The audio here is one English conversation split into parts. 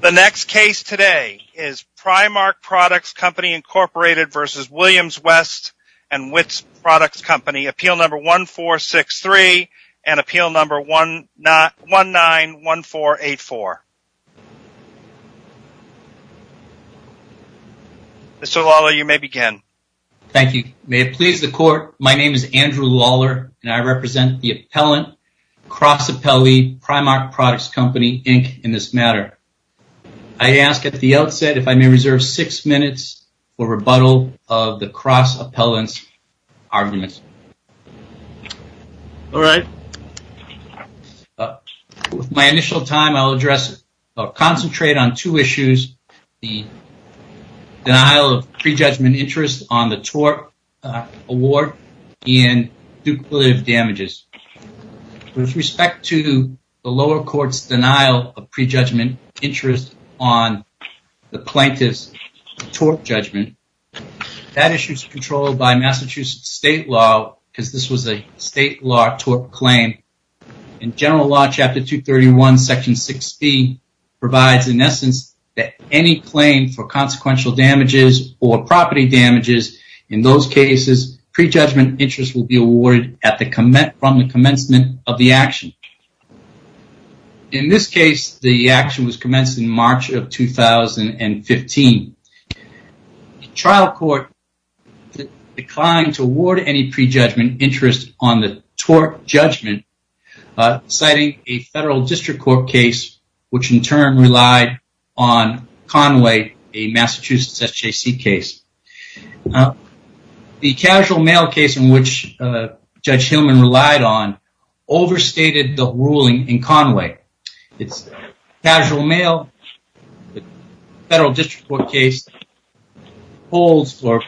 The next case today is Primarque Products Co., Inc. v. Williams W. & Witt's Prod. Co. Appeal No. 1463 and Appeal No. 191484. Mr. Lawler, you may begin. Thank you. May it please the Court, my name is Andrew Lawler and I represent the appellant, cross-appellee, Primarque Products Co., Inc. in this matter. I ask at the outset if I may reserve six minutes for rebuttal of the cross-appellant's arguments. All right. With my initial time, I'll concentrate on two issues, the denial of prejudgment interest on the plaintiff's tort judgment. That issue is controlled by Massachusetts state law because this was a state law tort claim. In general law, Chapter 231, Section 6B provides, in essence, that any claim for consequential damages or property damages, in those cases, prejudgment interest will be awarded from the commencement of the action. In Massachusetts state law, the plaintiff's action was commenced in March of 2015. The trial court declined to award any prejudgment interest on the tort judgment, citing a federal district court case which in turn relied on Conway, a Massachusetts SJC case. The casual mail case in which Judge Hillman relied on overstated the ruling in Conway. It's casual mail. The federal district court case holds or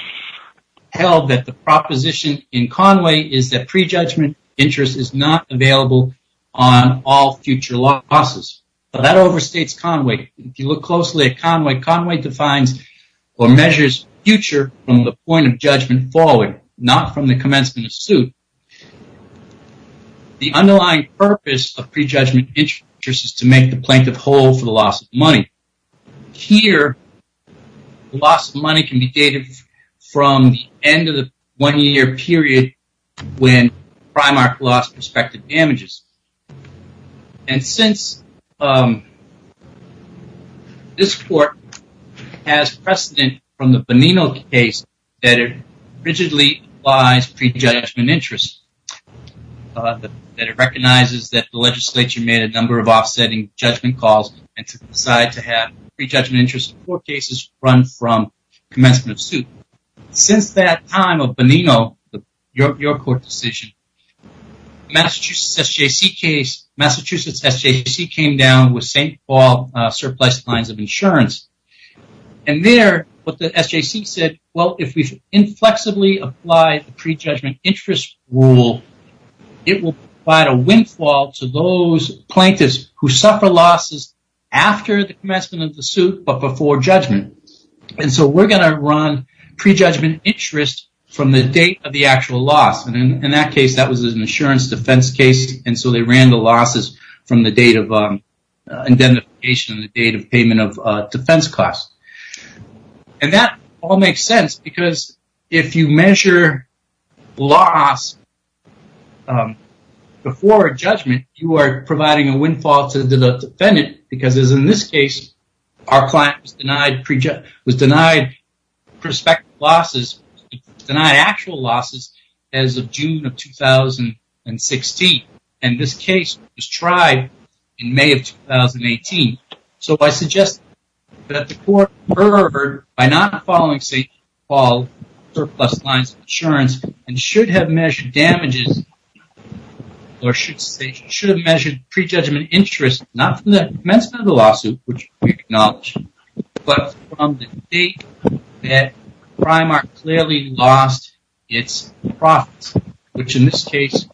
held that the proposition in Conway is that prejudgment interest is not available on all future law classes. That overstates Conway. If you look closely at Conway, Conway defines or measures future from the point of judgment forward, not from the commencement of suit. The underlying purpose of prejudgment interest is to make the plaintiff whole for the loss of money. Here, the loss of money can be dated from the end of the one-year period when Primark lost prospective damages. And since this court has precedent from the Bonino case that it rigidly applies prejudgment interest, that it recognizes that the legislature made a number of offsetting judgment calls and decided to have prejudgment interest court cases run from commencement of suit. Since that time of Bonino, your court decision, Massachusetts SJC case, Massachusetts SJC came down with St. Paul surplus lines of insurance. And there, what the SJC said, well, if we inflexibly apply the prejudgment interest rule, it will provide a windfall to those plaintiffs who suffer losses after the commencement of the suit, but before judgment. And so we're going to run prejudgment interest from the date of the actual loss. And in that case, that was an insurance defense case. And so they ran the losses from the date of defense cost. And that all makes sense because if you measure loss before judgment, you are providing a windfall to the defendant because as in this case, our client was denied prospective losses, denied actual losses as of June of 2016. And this case was tried in May of 2018. So I suggest that the court, by not following St. Paul surplus lines of insurance and should have measured damages or should have measured prejudgment interest, not from the commencement of the lawsuit, which we acknowledge, but from the date that Primark clearly lost its profits, which in this case,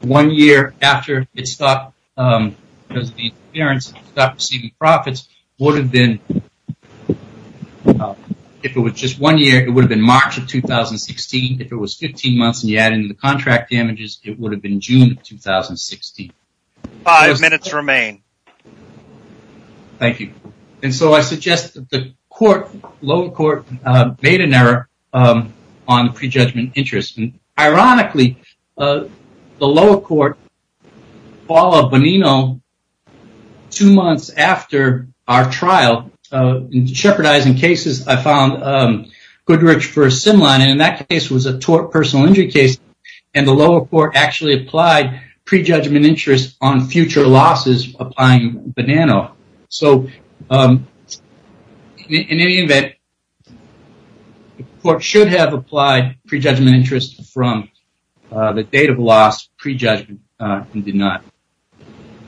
one year after it stopped receiving profits would have been, if it was just one year, it would have been March of 2016. If it was 15 months and you add in the contract damages, it would have been June of 2016. Five minutes remain. Thank you. And so I suggest that the court, lower court made an error on the prejudgment interest. And ironically, the lower court, Paula Bonino, two months after our trial, jeopardizing cases, I found Goodrich for a SIN line. And in that case was a tort personal injury case. And the lower court actually applied prejudgment interest on future losses applying Bonino. So in any event, the court should have applied prejudgment interest from the date of loss prejudgment and did not.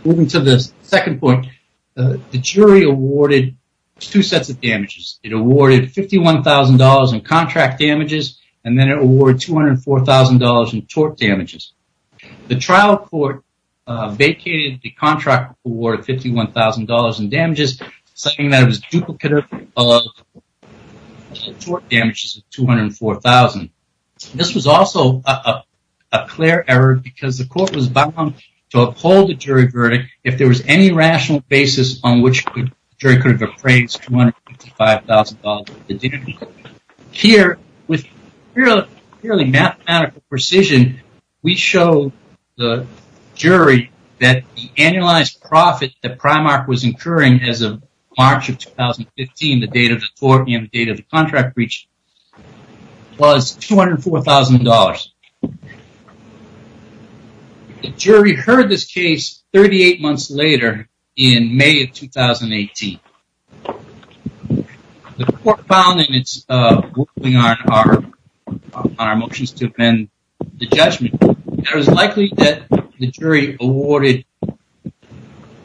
Moving to the second point, the jury awarded two sets of damages. It awarded $204,000 in tort damages. The trial court vacated the contract for $51,000 in damages, saying that it was duplicative of tort damages of $204,000. This was also a clear error because the court was bound to uphold the jury verdict. If there was any rational basis on which the jury could have appraised $255,000, here with purely mathematical precision, we show the jury that the annualized profit that Primark was incurring as of March of 2015, the date of the tort and the date of the contract breach was $204,000. The jury heard this case 38 months later in May of 2018. The court found in its ruling on our motions to amend the judgment, it was likely that the jury awarded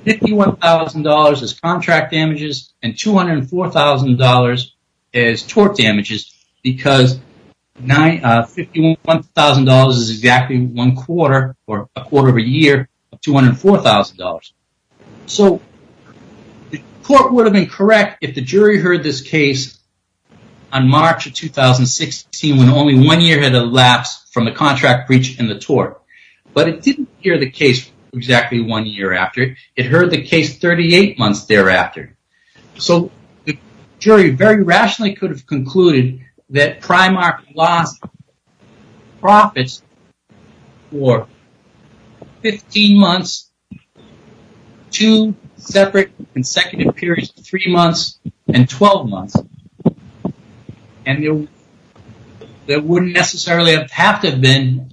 $51,000 as contract damages and $204,000 as tort damages because $51,000 is exactly one quarter or two quarters. The court would have been correct if the jury heard this case on March of 2016 when only one year had elapsed from the contract breach and the tort. But it didn't hear the case exactly one year after. It heard the case 38 months thereafter. The jury very rationally could have concluded that Primark lost profits for 15 months and two separate consecutive periods of three months and 12 months. There wouldn't necessarily have to have been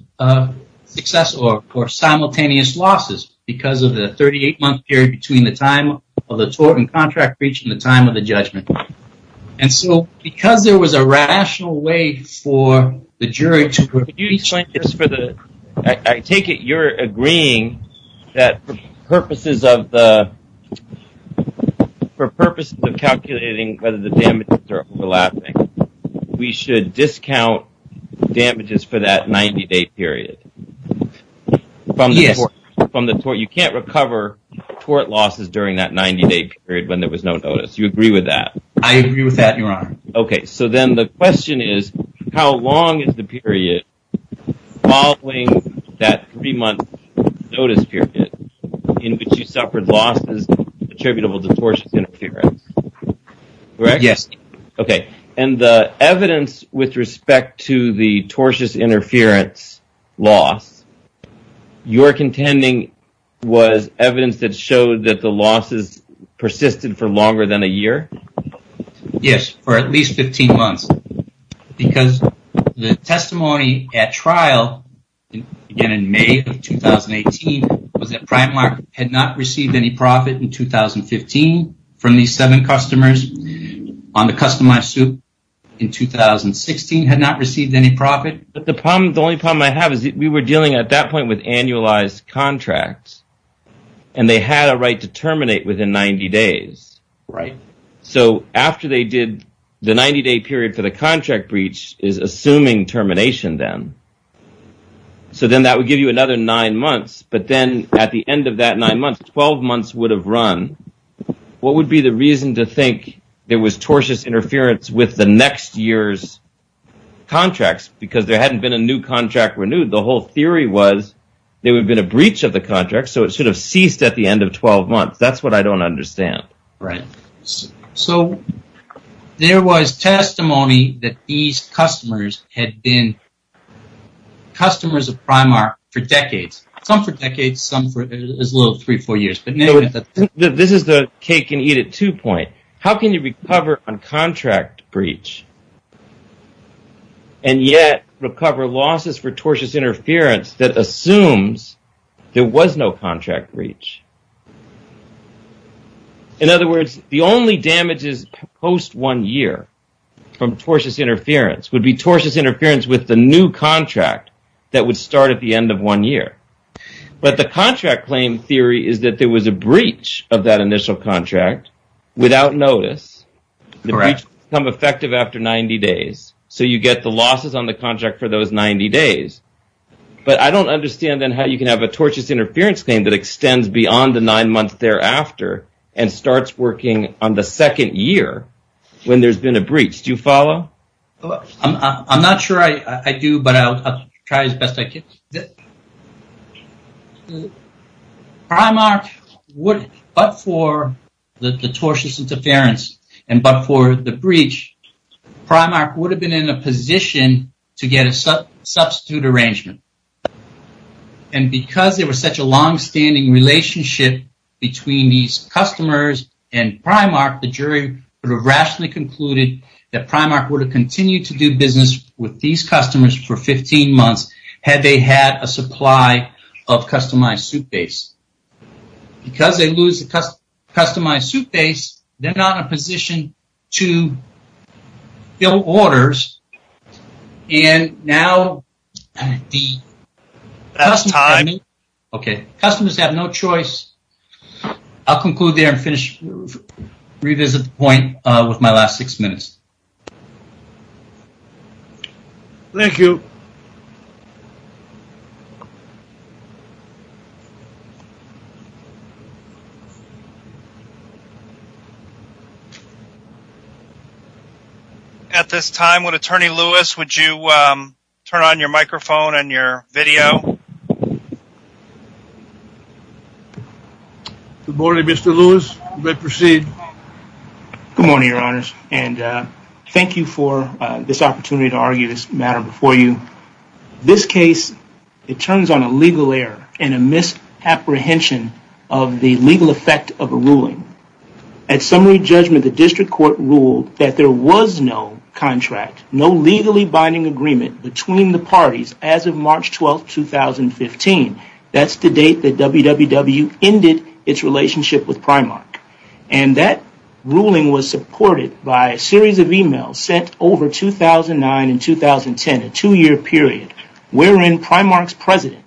success or simultaneous losses because of the 38-month period between the time of the tort and contract breach and the time of the judgment. And so because there was a rational way for the jury to... I take it you're agreeing that for purposes of calculating whether the damages are overlapping, we should discount damages for that 90-day period from the tort. You can't recover tort losses during that 90-day period when there was no notice. You agree with that? I agree with that, Your Honor. Okay. So then the question is, how long is the period following that three-month notice period in which you suffered losses attributable to tortious interference? Correct? Yes. Okay. And the evidence with respect to the tortious interference loss, you're contending was evidence that showed that the losses persisted for longer than a year? Yes, for at least 15 months. Because the testimony at trial, again in May of 2018, was that Primark had not received any profit in 2015 from these seven customers. On the customized suit in 2016, had not received any profit. But the only problem I have is that we were dealing at that point with annualized contracts and they had a right to terminate within 90 days. Right. So after they did the 90-day period for the contract breach is assuming termination then. So then that would give you another nine months. But then at the end of that nine months, 12 months would have run. What would be the reason to think there was tortious interference with the next year's contracts? Because there hadn't been a new contract renewed. The whole theory was there would have been a breach of the contract. So it should have ceased at the next year. I don't understand. Right. So there was testimony that these customers had been customers of Primark for decades. Some for decades, some for as little as three or four years. But this is the cake and eat at two point. How can you recover on contract breach and yet recover losses for tortious interference that assumes there was no contract breach? In other words, the only damages post one year from tortious interference would be tortious interference with the new contract that would start at the end of one year. But the contract claim theory is that there was a breach of that initial contract without notice. Correct. Come effective after 90 days. So you get the losses on the contract for those 90 days. But I don't understand then how you can have a tortious interference claim that extends beyond the nine months thereafter and starts working on the second year when there's been a breach. Do you follow? I'm not sure I do, but I'll try as best I can. Primark would, but for the tortious interference and but for the breach, Primark would have been in a position to get a substitute arrangement. And because there was such a longstanding relationship between these customers and Primark, the jury would have rationally concluded that Primark would have continued to do business with these customers for 15 months had they had a supply of customized soup base. Because they lose the customized soup base, they're not in a position to fill orders. And now the customers have no choice. I'll conclude there and finish, revisit the point with my last six minutes. Thank you. At this time, would attorney Lewis, would you turn on your microphone and your video? Good morning, Mr. Lewis. You may proceed. Good morning, your honors. And thank you for this opportunity to argue this matter before you. This case, it turns on a legal error and a misapprehension of the legal effect of a ruling. At summary judgment, the district court ruled that there was no contract, no legally binding agreement between the parties as of March 12, 2015. That's the date that WWW ended its relationship with Primark. And that ruling was supported by a series of emails sent over 2009 and 2010, a two-year period wherein Primark's president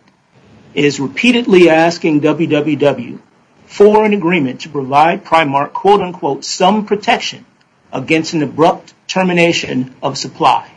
is repeatedly asking WWW for an agreement to provide Primark some protection against an abrupt termination of supply.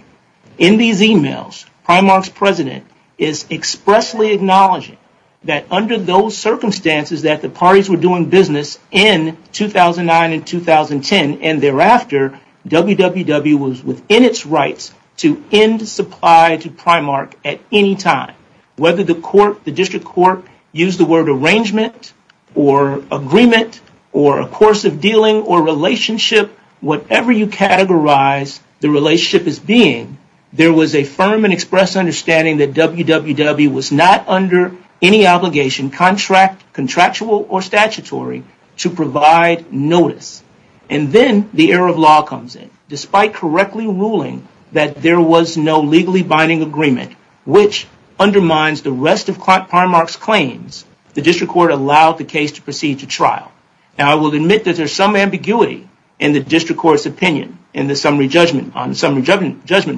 In these emails, Primark's president is expressly acknowledging that under those circumstances that the parties were doing business in 2009 and 2010. And thereafter, WWW was within its rights to end supply to Primark at any time. Whether the court, the district court, used the word arrangement or agreement or a course of dealing or relationship, whatever you categorize the relationship as being, there was a firm and express understanding that WWW was not under any obligation, contractual or statutory, to provide notice. And then the error of law comes in. Despite correctly ruling that there was no legally binding agreement, which undermines the rest of Primark's claims, the district court allowed the case to proceed to trial. Now, I will admit that there's some ambiguity in the district court's opinion in the summary judgment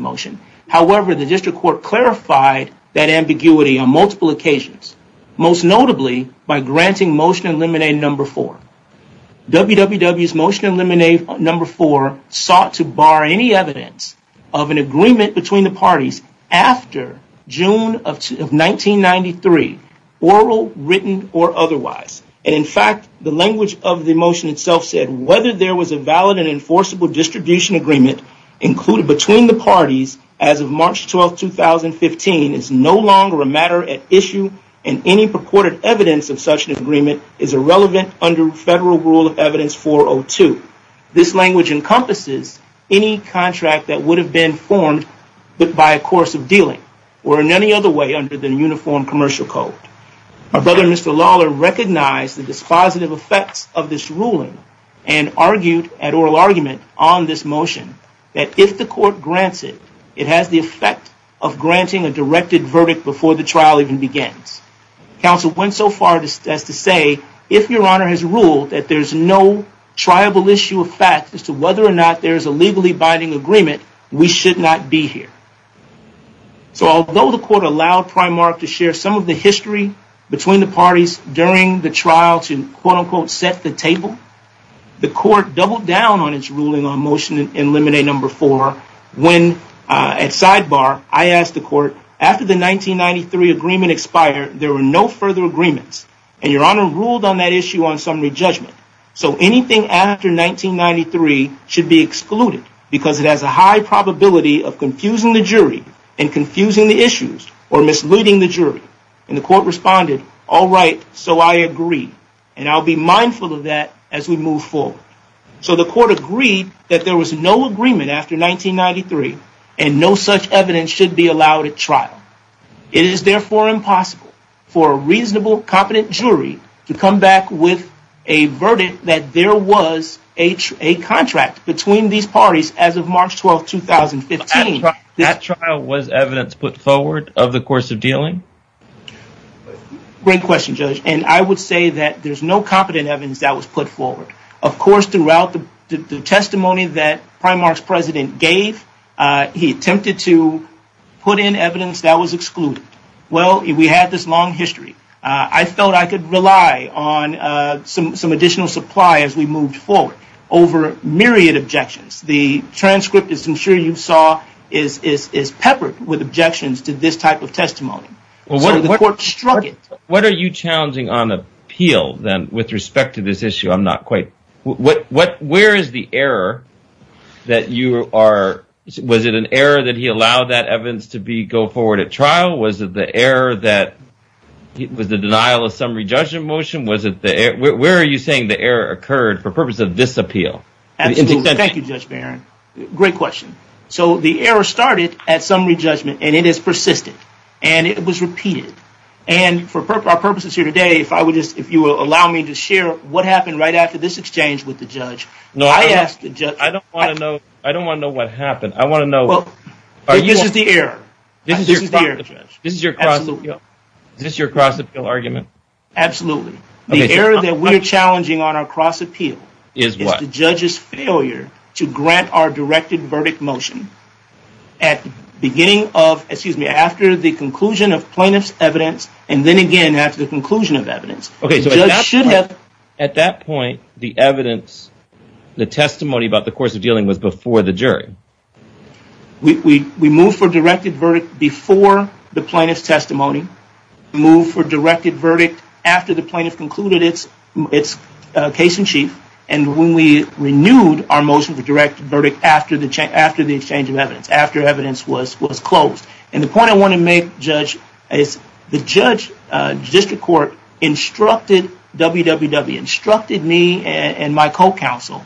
motion. However, the district court clarified that ambiguity on multiple occasions, most notably by granting motion eliminated number four. WWW's motion eliminated number four sought to bar any evidence of an agreement between the parties after June of 1993, oral, written or otherwise. And in fact, the language of the motion itself said, whether there was a valid and enforceable distribution agreement included between the parties as of March 12, 2015 is no longer a matter at issue and any purported evidence of such an agreement is irrelevant under Federal Rule of Evidence 402. This language encompasses any contract that would have been formed, but by a course of dealing or in any other way under the Uniform Commercial Code. My brother, Mr. Lawler, recognized the dispositive effects of this ruling and argued at oral argument on this motion that if the court grants it, it has the effect of granting a directed verdict before the trial even begins. Counsel went so far as to say, if your honor has ruled that there's no triable issue of fact as to whether or not there is a legally binding agreement, we should not be here. So although the court allowed Primark to share some of the history between the parties during the trial to quote-unquote set the table, the court doubled down on its ruling on Motion in Limine No. 4 when at sidebar, I asked the court, after the 1993 agreement expired, there were no further agreements and your honor ruled on that issue on summary judgment. So anything after 1993 should be excluded because it has a high probability of confusing the jury and confusing the issues or misleading the jury. And the court responded, all right, so I agree. And I'll be mindful of that as we move forward. So the court agreed that there was no agreement after 1993 and no such evidence should be allowed at trial. It is therefore impossible for a reasonable, competent jury to come back with a verdict that there was a contract between these parties as of March 12th, 2015. At trial, was evidence put forward of the course of dealing? Great question, Judge. And I would say that there's no competent evidence that was put forward. Of course, throughout the testimony that Primark's president gave, he attempted to put in evidence that was excluded. Well, we had this long history. I felt I could rely on some additional supply as we moved forward over myriad objections. The transcript, as I'm sure you saw, is peppered with objections to this type of testimony. What are you challenging on appeal then with respect to this issue? I'm not quite... Where is the error that you are... Was it an error that he allowed that evidence to go forward at trial? Was it the error that... Was the denial of summary judgment motion? Where are you saying the error occurred for purpose of this appeal? Thank you, Judge Barron. Great question. So the error started at summary judgment, and it has persisted, and it was repeated. And for our purposes here today, if you will allow me to share what happened right after this exchange with the judge, I asked the judge... No, I don't want to know what happened. I want to know... Well, this is the error. This is your cross-appeal argument? Absolutely. The error that we're challenging on our cross-appeal... Is what? The judge's failure to grant our directed verdict motion at the beginning of... Excuse me. After the conclusion of plaintiff's evidence, and then again after the conclusion of evidence. At that point, the evidence, the testimony about the course of dealing was before the jury. We moved for directed verdict before the plaintiff's testimony, moved for directed verdict after the plaintiff concluded its case in chief, and when we renewed our motion for directed verdict after the exchange of evidence, after evidence was closed. And the point I want to make, Judge, is the judge, the district court, instructed www, instructed me and my co-counsel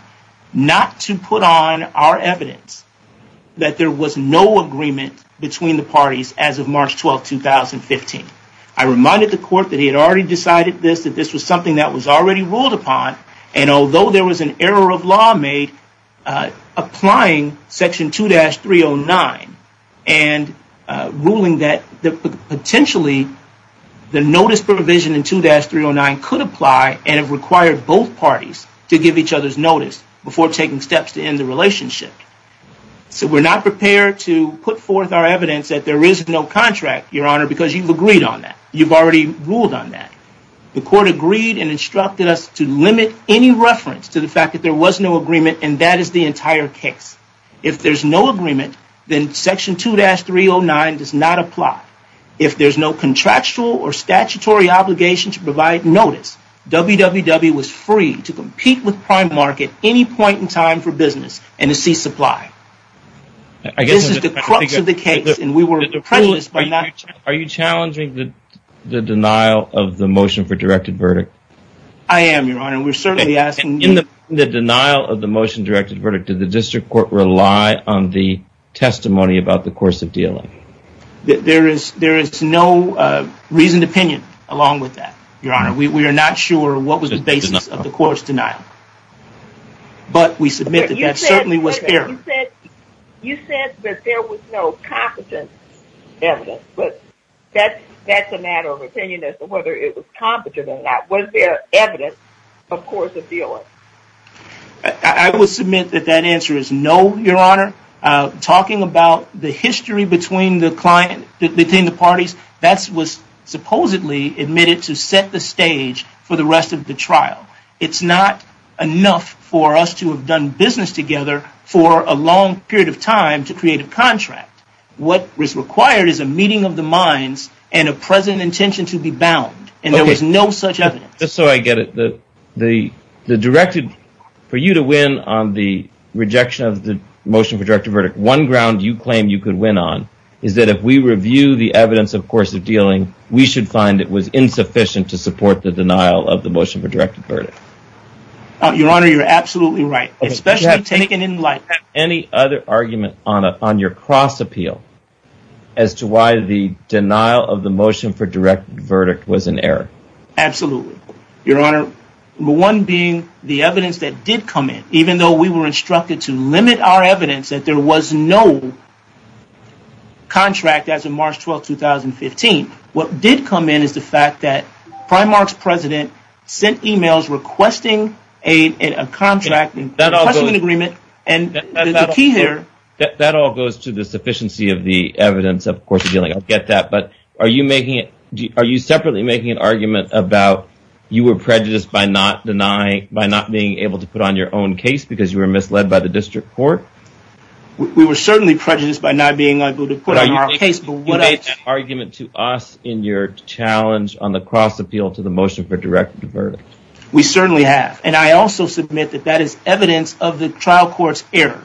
not to put on our evidence that there was no agreement between the parties as of March 12, 2015. I reminded the court that he had already decided this, that this was something that was already ruled upon, and although there was an error of law made, applying section 2-309 and ruling that potentially the notice provision in 2-309 could apply and it required both parties to give each other's notice before taking steps to end the relationship. So we're not prepared to put forth our evidence that there is no contract, Your Honor, because you've agreed on that. You've already ruled on that. The court agreed and instructed us to limit any reference to the fact that there was no agreement and that is the entire case. If there's no agreement, then section 2-309 does not apply. If there's no contractual or statutory obligation to provide notice, www was free to compete with Primark at any point in time for business and to see supply. This is the crux of the case and we were prejudiced by that. Are you challenging the denial of the motion for directed verdict? I am, Your Honor. We're certainly asking... In the denial of the motion directed verdict, did the district court rely on the testimony about the course of dealing? There is no reasoned opinion along with that, Your Honor. We are not sure what was the basis of the court's denial, but we submit that that certainly was error. You said that there was no competent evidence, but that's a matter of opinion as to whether it was competent or not. Was there evidence of course of dealing? I would submit that that answer is no, Your Honor. Talking about the history between the parties, that was supposedly admitted to set the stage for the rest of the trial. It's not enough for us to have done business together for a long period of time to create a contract. What was required is a meeting of the minds and a present intention to be bound, and there was no such evidence. Just so I get it, for you to win on the rejection of the motion for directed verdict, one ground you claim you could win on is that if we review the evidence of course of dealing, we should find it was insufficient to support the denial of the motion for directed verdict. Your Honor, you're absolutely right. Especially taken in light. Do you have any other argument on your cross appeal as to why the denial of the motion for directed verdict was an error? Absolutely. Your Honor, one being the evidence that did come in, even though we were instructed to limit our evidence that there was no contract as of March 12, 2015, what did come in is the fact that Primark's president sent emails requesting a contract, requesting an agreement, and the key here... That all goes to the sufficiency of the evidence of course of dealing. I get that, but are you making it... Are you separately making an argument about you were prejudiced by not denying, by not being able to put on your own case because you were misled by the district court? We were certainly prejudiced by not being able to put on our case... But you made that argument to us in your challenge on the cross appeal to the motion for directed verdict. We certainly have. And I also submit that that is evidence of the trial court's error.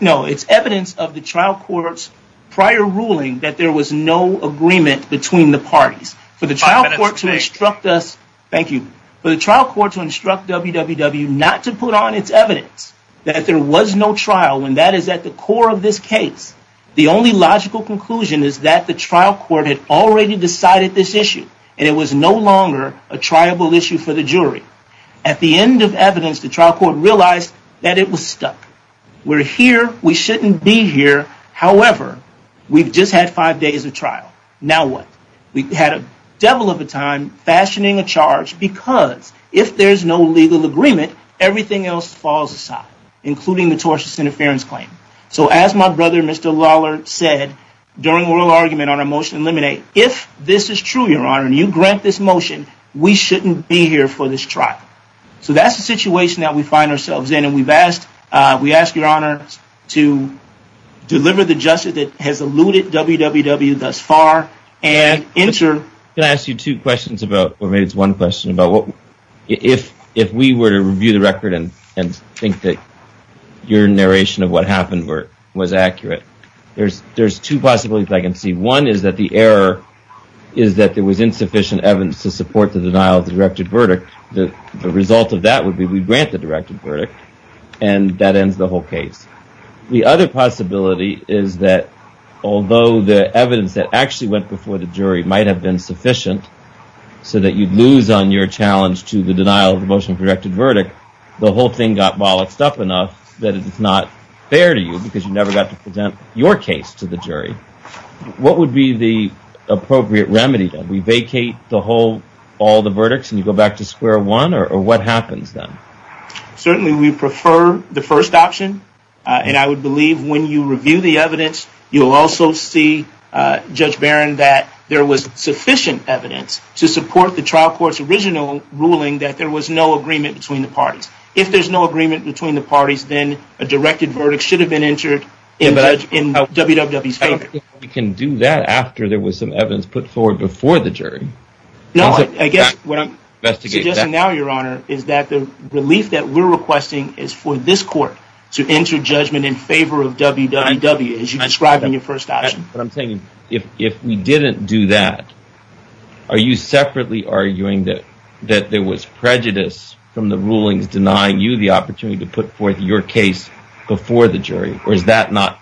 No, it's evidence of the trial court's prior ruling that there was no agreement between the parties. For the trial court to instruct us... Thank you. For the trial court to instruct WWW not to put on its evidence that there was no trial when that is at the core of this case. The only logical conclusion is that the trial court had already decided this issue and it was no longer a triable issue for the jury. At the end of evidence, the trial court realized that it was stuck. We're here. We shouldn't be here. However, we've just had five days of trial. Now what? We've had a devil of a time fashioning a charge because if there's no legal agreement, everything else falls aside, including the tortious interference claim. So as my brother, Mr. Lawler said during oral argument on a motion to eliminate, if this is true, your honor, and you grant this motion, we shouldn't be here for this trial. So that's the situation that we find ourselves in. And we've asked, we ask your honor to deliver the justice that has eluded WWW thus far and enter... Can I ask you two questions about, or maybe it's one question about what, if we were to review the record and think that your narration of what happened was accurate, there's two possibilities I can see. One is that the error is that there was insufficient evidence to support the denial of the directed verdict. The result of that would be we grant the directed verdict and that ends the whole case. The other possibility is that although the evidence that actually went before the jury might have been sufficient so that you'd lose on your challenge to the denial of the motion of directed verdict, the whole thing got bollocked up enough that it's not fair to you because you never got to present your case to the jury. What would be the appropriate remedy? We vacate the whole, all the verdicts and you go back to square one or what happens then? Certainly we prefer the first option. And I would believe when you review the evidence, you'll also see, Judge Barron, that there was sufficient evidence to support the trial court's original ruling that there was no agreement between the parties. If there's no agreement between the parties, then a directed verdict should have been entered in WWW's favor. We can do that after there was some evidence put forward before the jury. No, I guess what I'm suggesting now, Your Honor, is that the relief that we're requesting is for this court to enter judgment in favor of WWW. As you described in your first option. But I'm saying if we didn't do that, are you separately arguing that there was prejudice from the rulings denying you the opportunity to put forth your case before the jury or is that not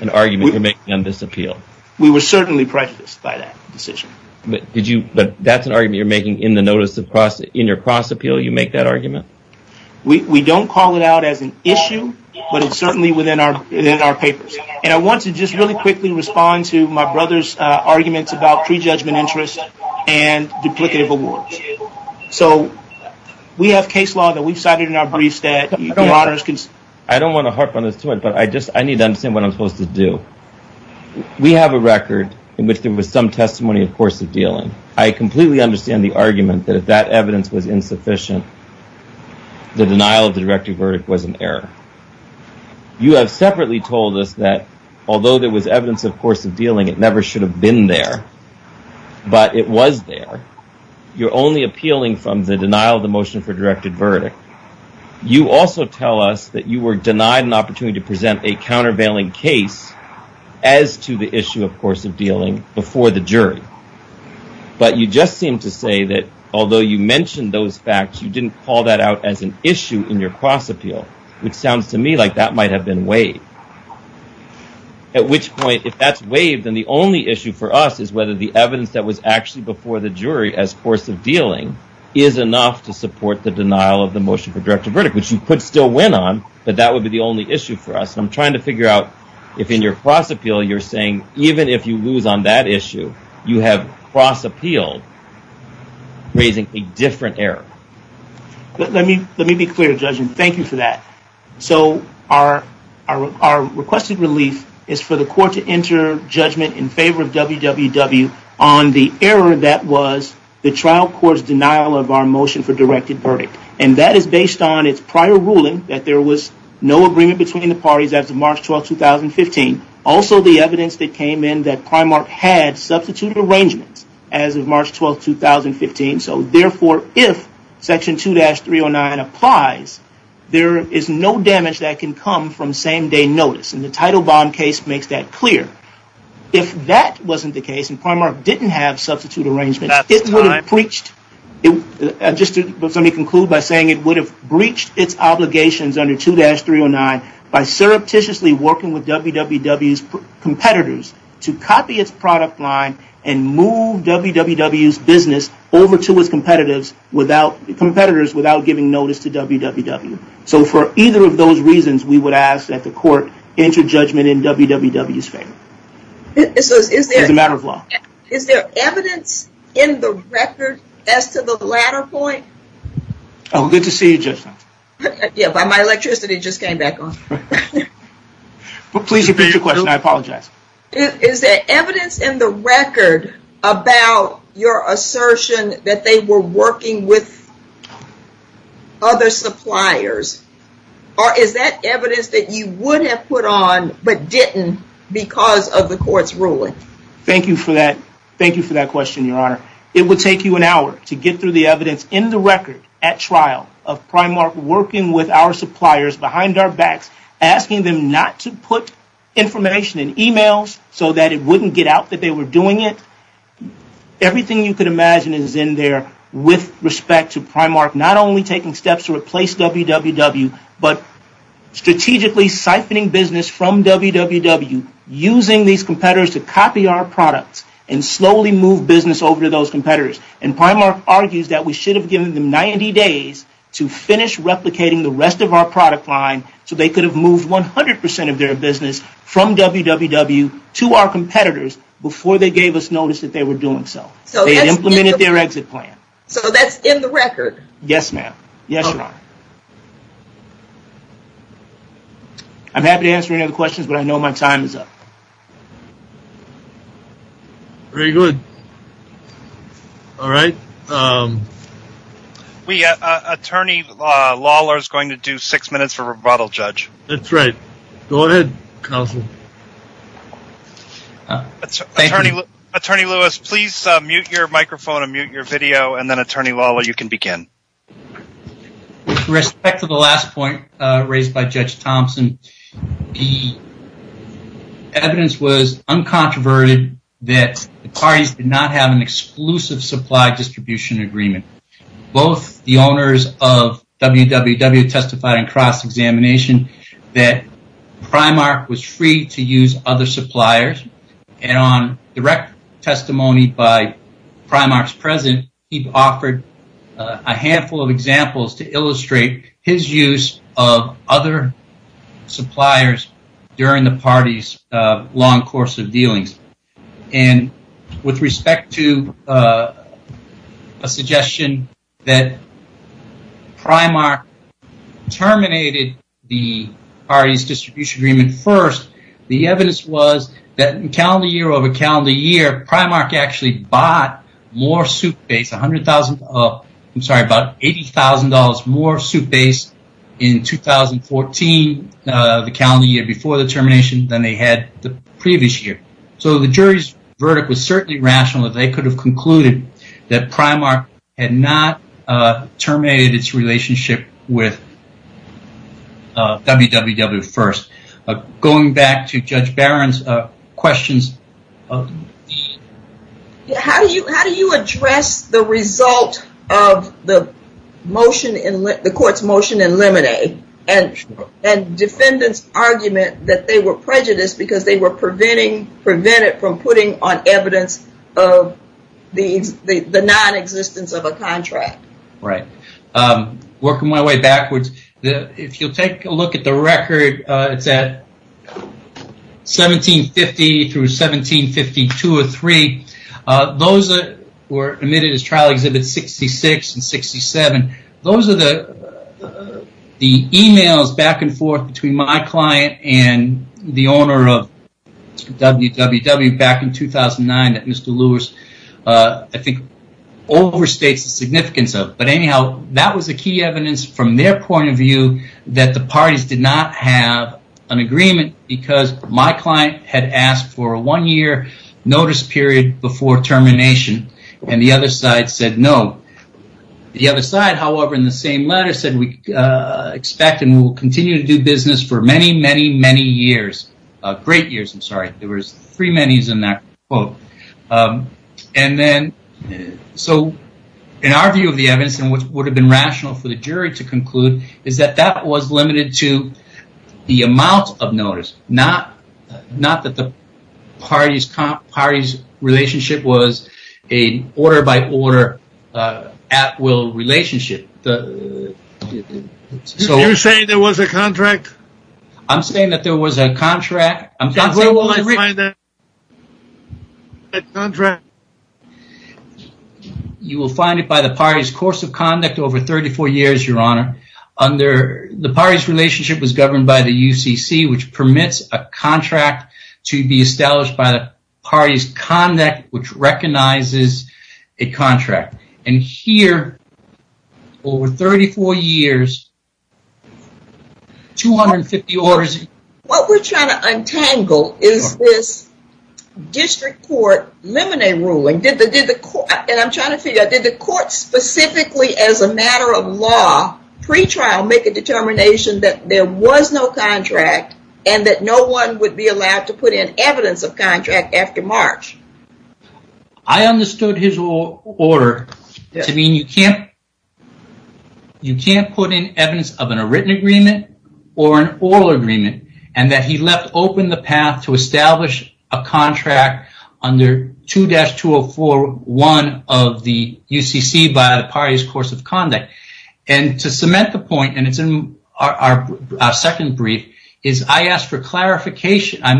an argument you're making on this appeal? We were certainly prejudiced by that decision. But that's an argument you're making in the notice of cross, in your cross appeal, you make that argument? We don't call it out as an issue, but it's certainly within our papers. And I want to just really quickly respond to my brother's arguments about prejudgment interest and duplicative awards. So we have case law that we've cited in our briefs that you, Your Honor. I don't want to harp on this too much, but I just, I need to understand what I'm supposed to do. We have a record in which there was some testimony, of course, of dealing. I completely understand the argument that if that evidence was insufficient, the denial of the directed verdict was an error. You have separately told us that although there was evidence, of course, of dealing, it never should have been there, but it was there. You're only appealing from the denial of the motion for directed verdict. You also tell us that you were denied an opportunity to present a countervailing case as to the issue, of course, of dealing before the jury. But you just seem to say that although you mentioned those facts, you didn't call that out as an issue in your cross appeal, which sounds to me like that might have been waived. At which point, if that's waived, then the only issue for us is whether the evidence that was actually before the jury as course of dealing is enough to support the denial of the motion for directed verdict, which you could still win on, but that would be the only issue for us. And I'm trying to figure out if in your cross appeal, you're saying, even if you lose on that issue, you have cross appealed, raising a different error. Let me be clear, Judge, and thank you for that. So our requested relief is for the court to enter judgment in favor of WWW on the error that was the trial court's denial of our motion for directed verdict. And that is based on its prior ruling that there was no agreement between the parties as of March 12, 2015. Also the evidence that came in that Primark had substituted arrangements as of March 12, 2015. So therefore, if section 2-309 applies, there is no damage that can come from same day notice. And the title bond case makes that clear. If that wasn't the case and Primark didn't have substitute arrangements, it would have breached, just let me conclude by saying it would have breached its obligations under 2-309 by surreptitiously working with WWW's competitors to copy its product line and move WWW's business over to its competitors without giving notice to WWW. So for either of those reasons, we would ask that the court enter judgment in WWW's favor. It's a matter of law. Is there evidence in the record as to the latter point? Oh, good to see you, Judge. Yeah, but my electricity just came back on. Please repeat your question, I apologize. Is there evidence in the record about your assertion that they were working with other suppliers? Or is that evidence that you would have put on but didn't because of the court's ruling? Thank you for that. Thank you for that question, Your Honor. It would take you an hour to get through the evidence in the record at trial of Primark working with our suppliers behind our backs, asking them not to put information in emails so that it wouldn't get out that they were doing it. Everything you could imagine is in there with respect to Primark not only taking steps to replace WWW, but strategically siphoning business from WWW, using these competitors to copy our products and slowly move business over to those competitors. And Primark argues that we should have given them 90 days to finish replicating the rest of our product line so they could have moved 100% of their business from WWW to our competitors before they gave us notice that they were doing so. So they implemented their exit plan. So that's in the record? Yes, ma'am. Yes, Your Honor. I'm happy to answer any other questions, but I know my time is up. Very good. All right. Attorney Lawler is going to do six minutes for rebuttal, Judge. That's right. Go ahead, Counsel. Attorney Lewis, please mute your microphone and mute your video, and then Attorney Lawler, you can begin. With respect to the last point raised by Judge Thompson, the evidence was uncontroverted that the parties did not have an exclusive supply distribution agreement. Both the owners of WWW testified in cross-examination that Primark was free to use other suppliers, and on direct testimony by Primark's president, he offered a handful of examples to illustrate his use of other suppliers during the party's long course of dealings. And with respect to a suggestion that Primark terminated the party's distribution agreement first, the evidence was that in calendar year over calendar year, Primark actually bought more soup base, $80,000 more soup base in 2014, the calendar year before the termination, than they had the previous year. So the jury's verdict was certainly rational that they could have concluded that Primark had not terminated its relationship with WWW first. Going back to Judge Barron's questions. How do you address the result of the motion, the court's motion in Lemonade, and defendants' argument that they were prejudiced because they were prevented from putting on evidence of the non-existence of a contract? Right. Working my way backwards. If you'll take a look at the record, it's at 1750 through 1752 or three. Those that were admitted as trial exhibits 66 and 67. Those are the emails back and forth between my client and the owner of WWW back in 2009 that Mr. Lewis I think overstates the significance of. But anyhow, that was the key evidence from their point of view that the parties did not have an agreement because my client had asked for a one year notice period before termination and the other side said no. The other side, however, in the same letter said we expect and will continue to do business for many, many, many years. Great years, I'm sorry. There were three many's in that quote. And then so in our view of the evidence and what would have been rational for the jury to conclude is that that was limited to the amount of notice, not that the party's relationship was a order by order at will relationship. You're saying there was a contract? I'm saying that there was a contract. You will find it by the party's course of conduct over 34 years, your honor. Under the party's relationship was governed by the UCC, which permits a contract to be recognized as a contract. And here, over 34 years, 250 orders. What we're trying to untangle is this district court limine ruling. And I'm trying to figure out, did the court specifically as a matter of law, pre-trial make a determination that there was no contract and that no one would be allowed to put in evidence of contract after March? I understood his order to mean you can't put in evidence of a written agreement or an oral agreement and that he left open the path to establish a contract under 2-204-1 of the UCC by the party's course of conduct. And to cement the point, and it's in our second brief, is I asked for clarification. I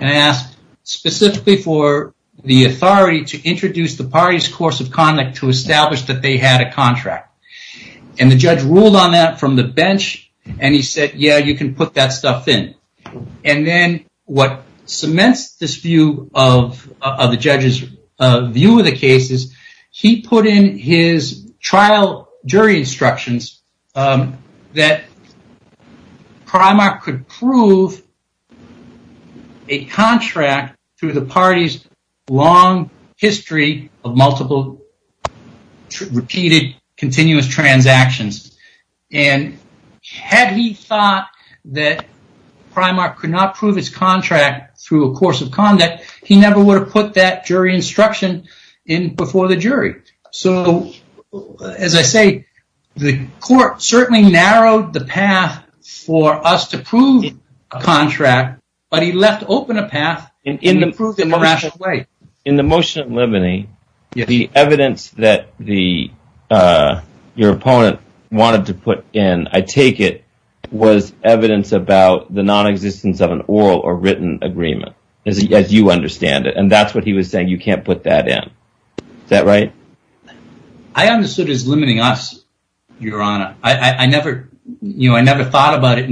asked specifically for the authority to introduce the party's course of conduct to establish that they had a contract. And the judge ruled on that from the bench and he said, yeah, you can put that stuff in. And then what cements this view of the judge's view of the case is he put in his trial jury instructions that Primark could prove a contract through the party's long history of multiple repeated continuous transactions. And had he thought that Primark could not prove his contract through a course of conduct, he never would have put that jury instruction in before the jury. So, as I say, the court certainly narrowed the path for us to prove a contract, but he left open a path and improved it in a rational way. In the motion of libany, the evidence that your opponent wanted to put in, I take it, was evidence about the non-existence of an oral or written agreement, as you understand it. And that's what he was saying, you can't put that in. Is that right? I understood as limiting us, your honor. I never thought about it.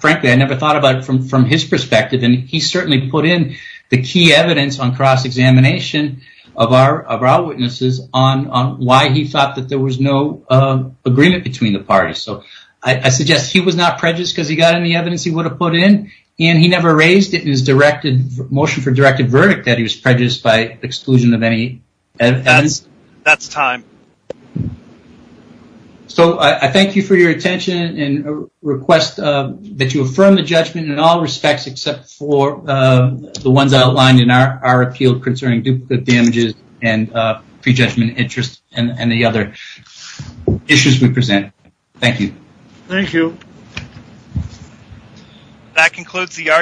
Frankly, I never thought about it from his perspective. And he certainly put in the key evidence on cross-examination of our witnesses on why he thought that there was no agreement between the parties. So I suggest he was not prejudiced because he got any evidence he would have put in. And he never raised it in his motion for directive verdict that he was prejudiced by exclusion of any evidence. That's time. So I thank you for your attention and request that you affirm the judgment in all respects, except for the ones outlined in our appeal concerning duplicate damages and prejudgment interest and the other issues we present. Thank you. Thank you. That concludes the argument.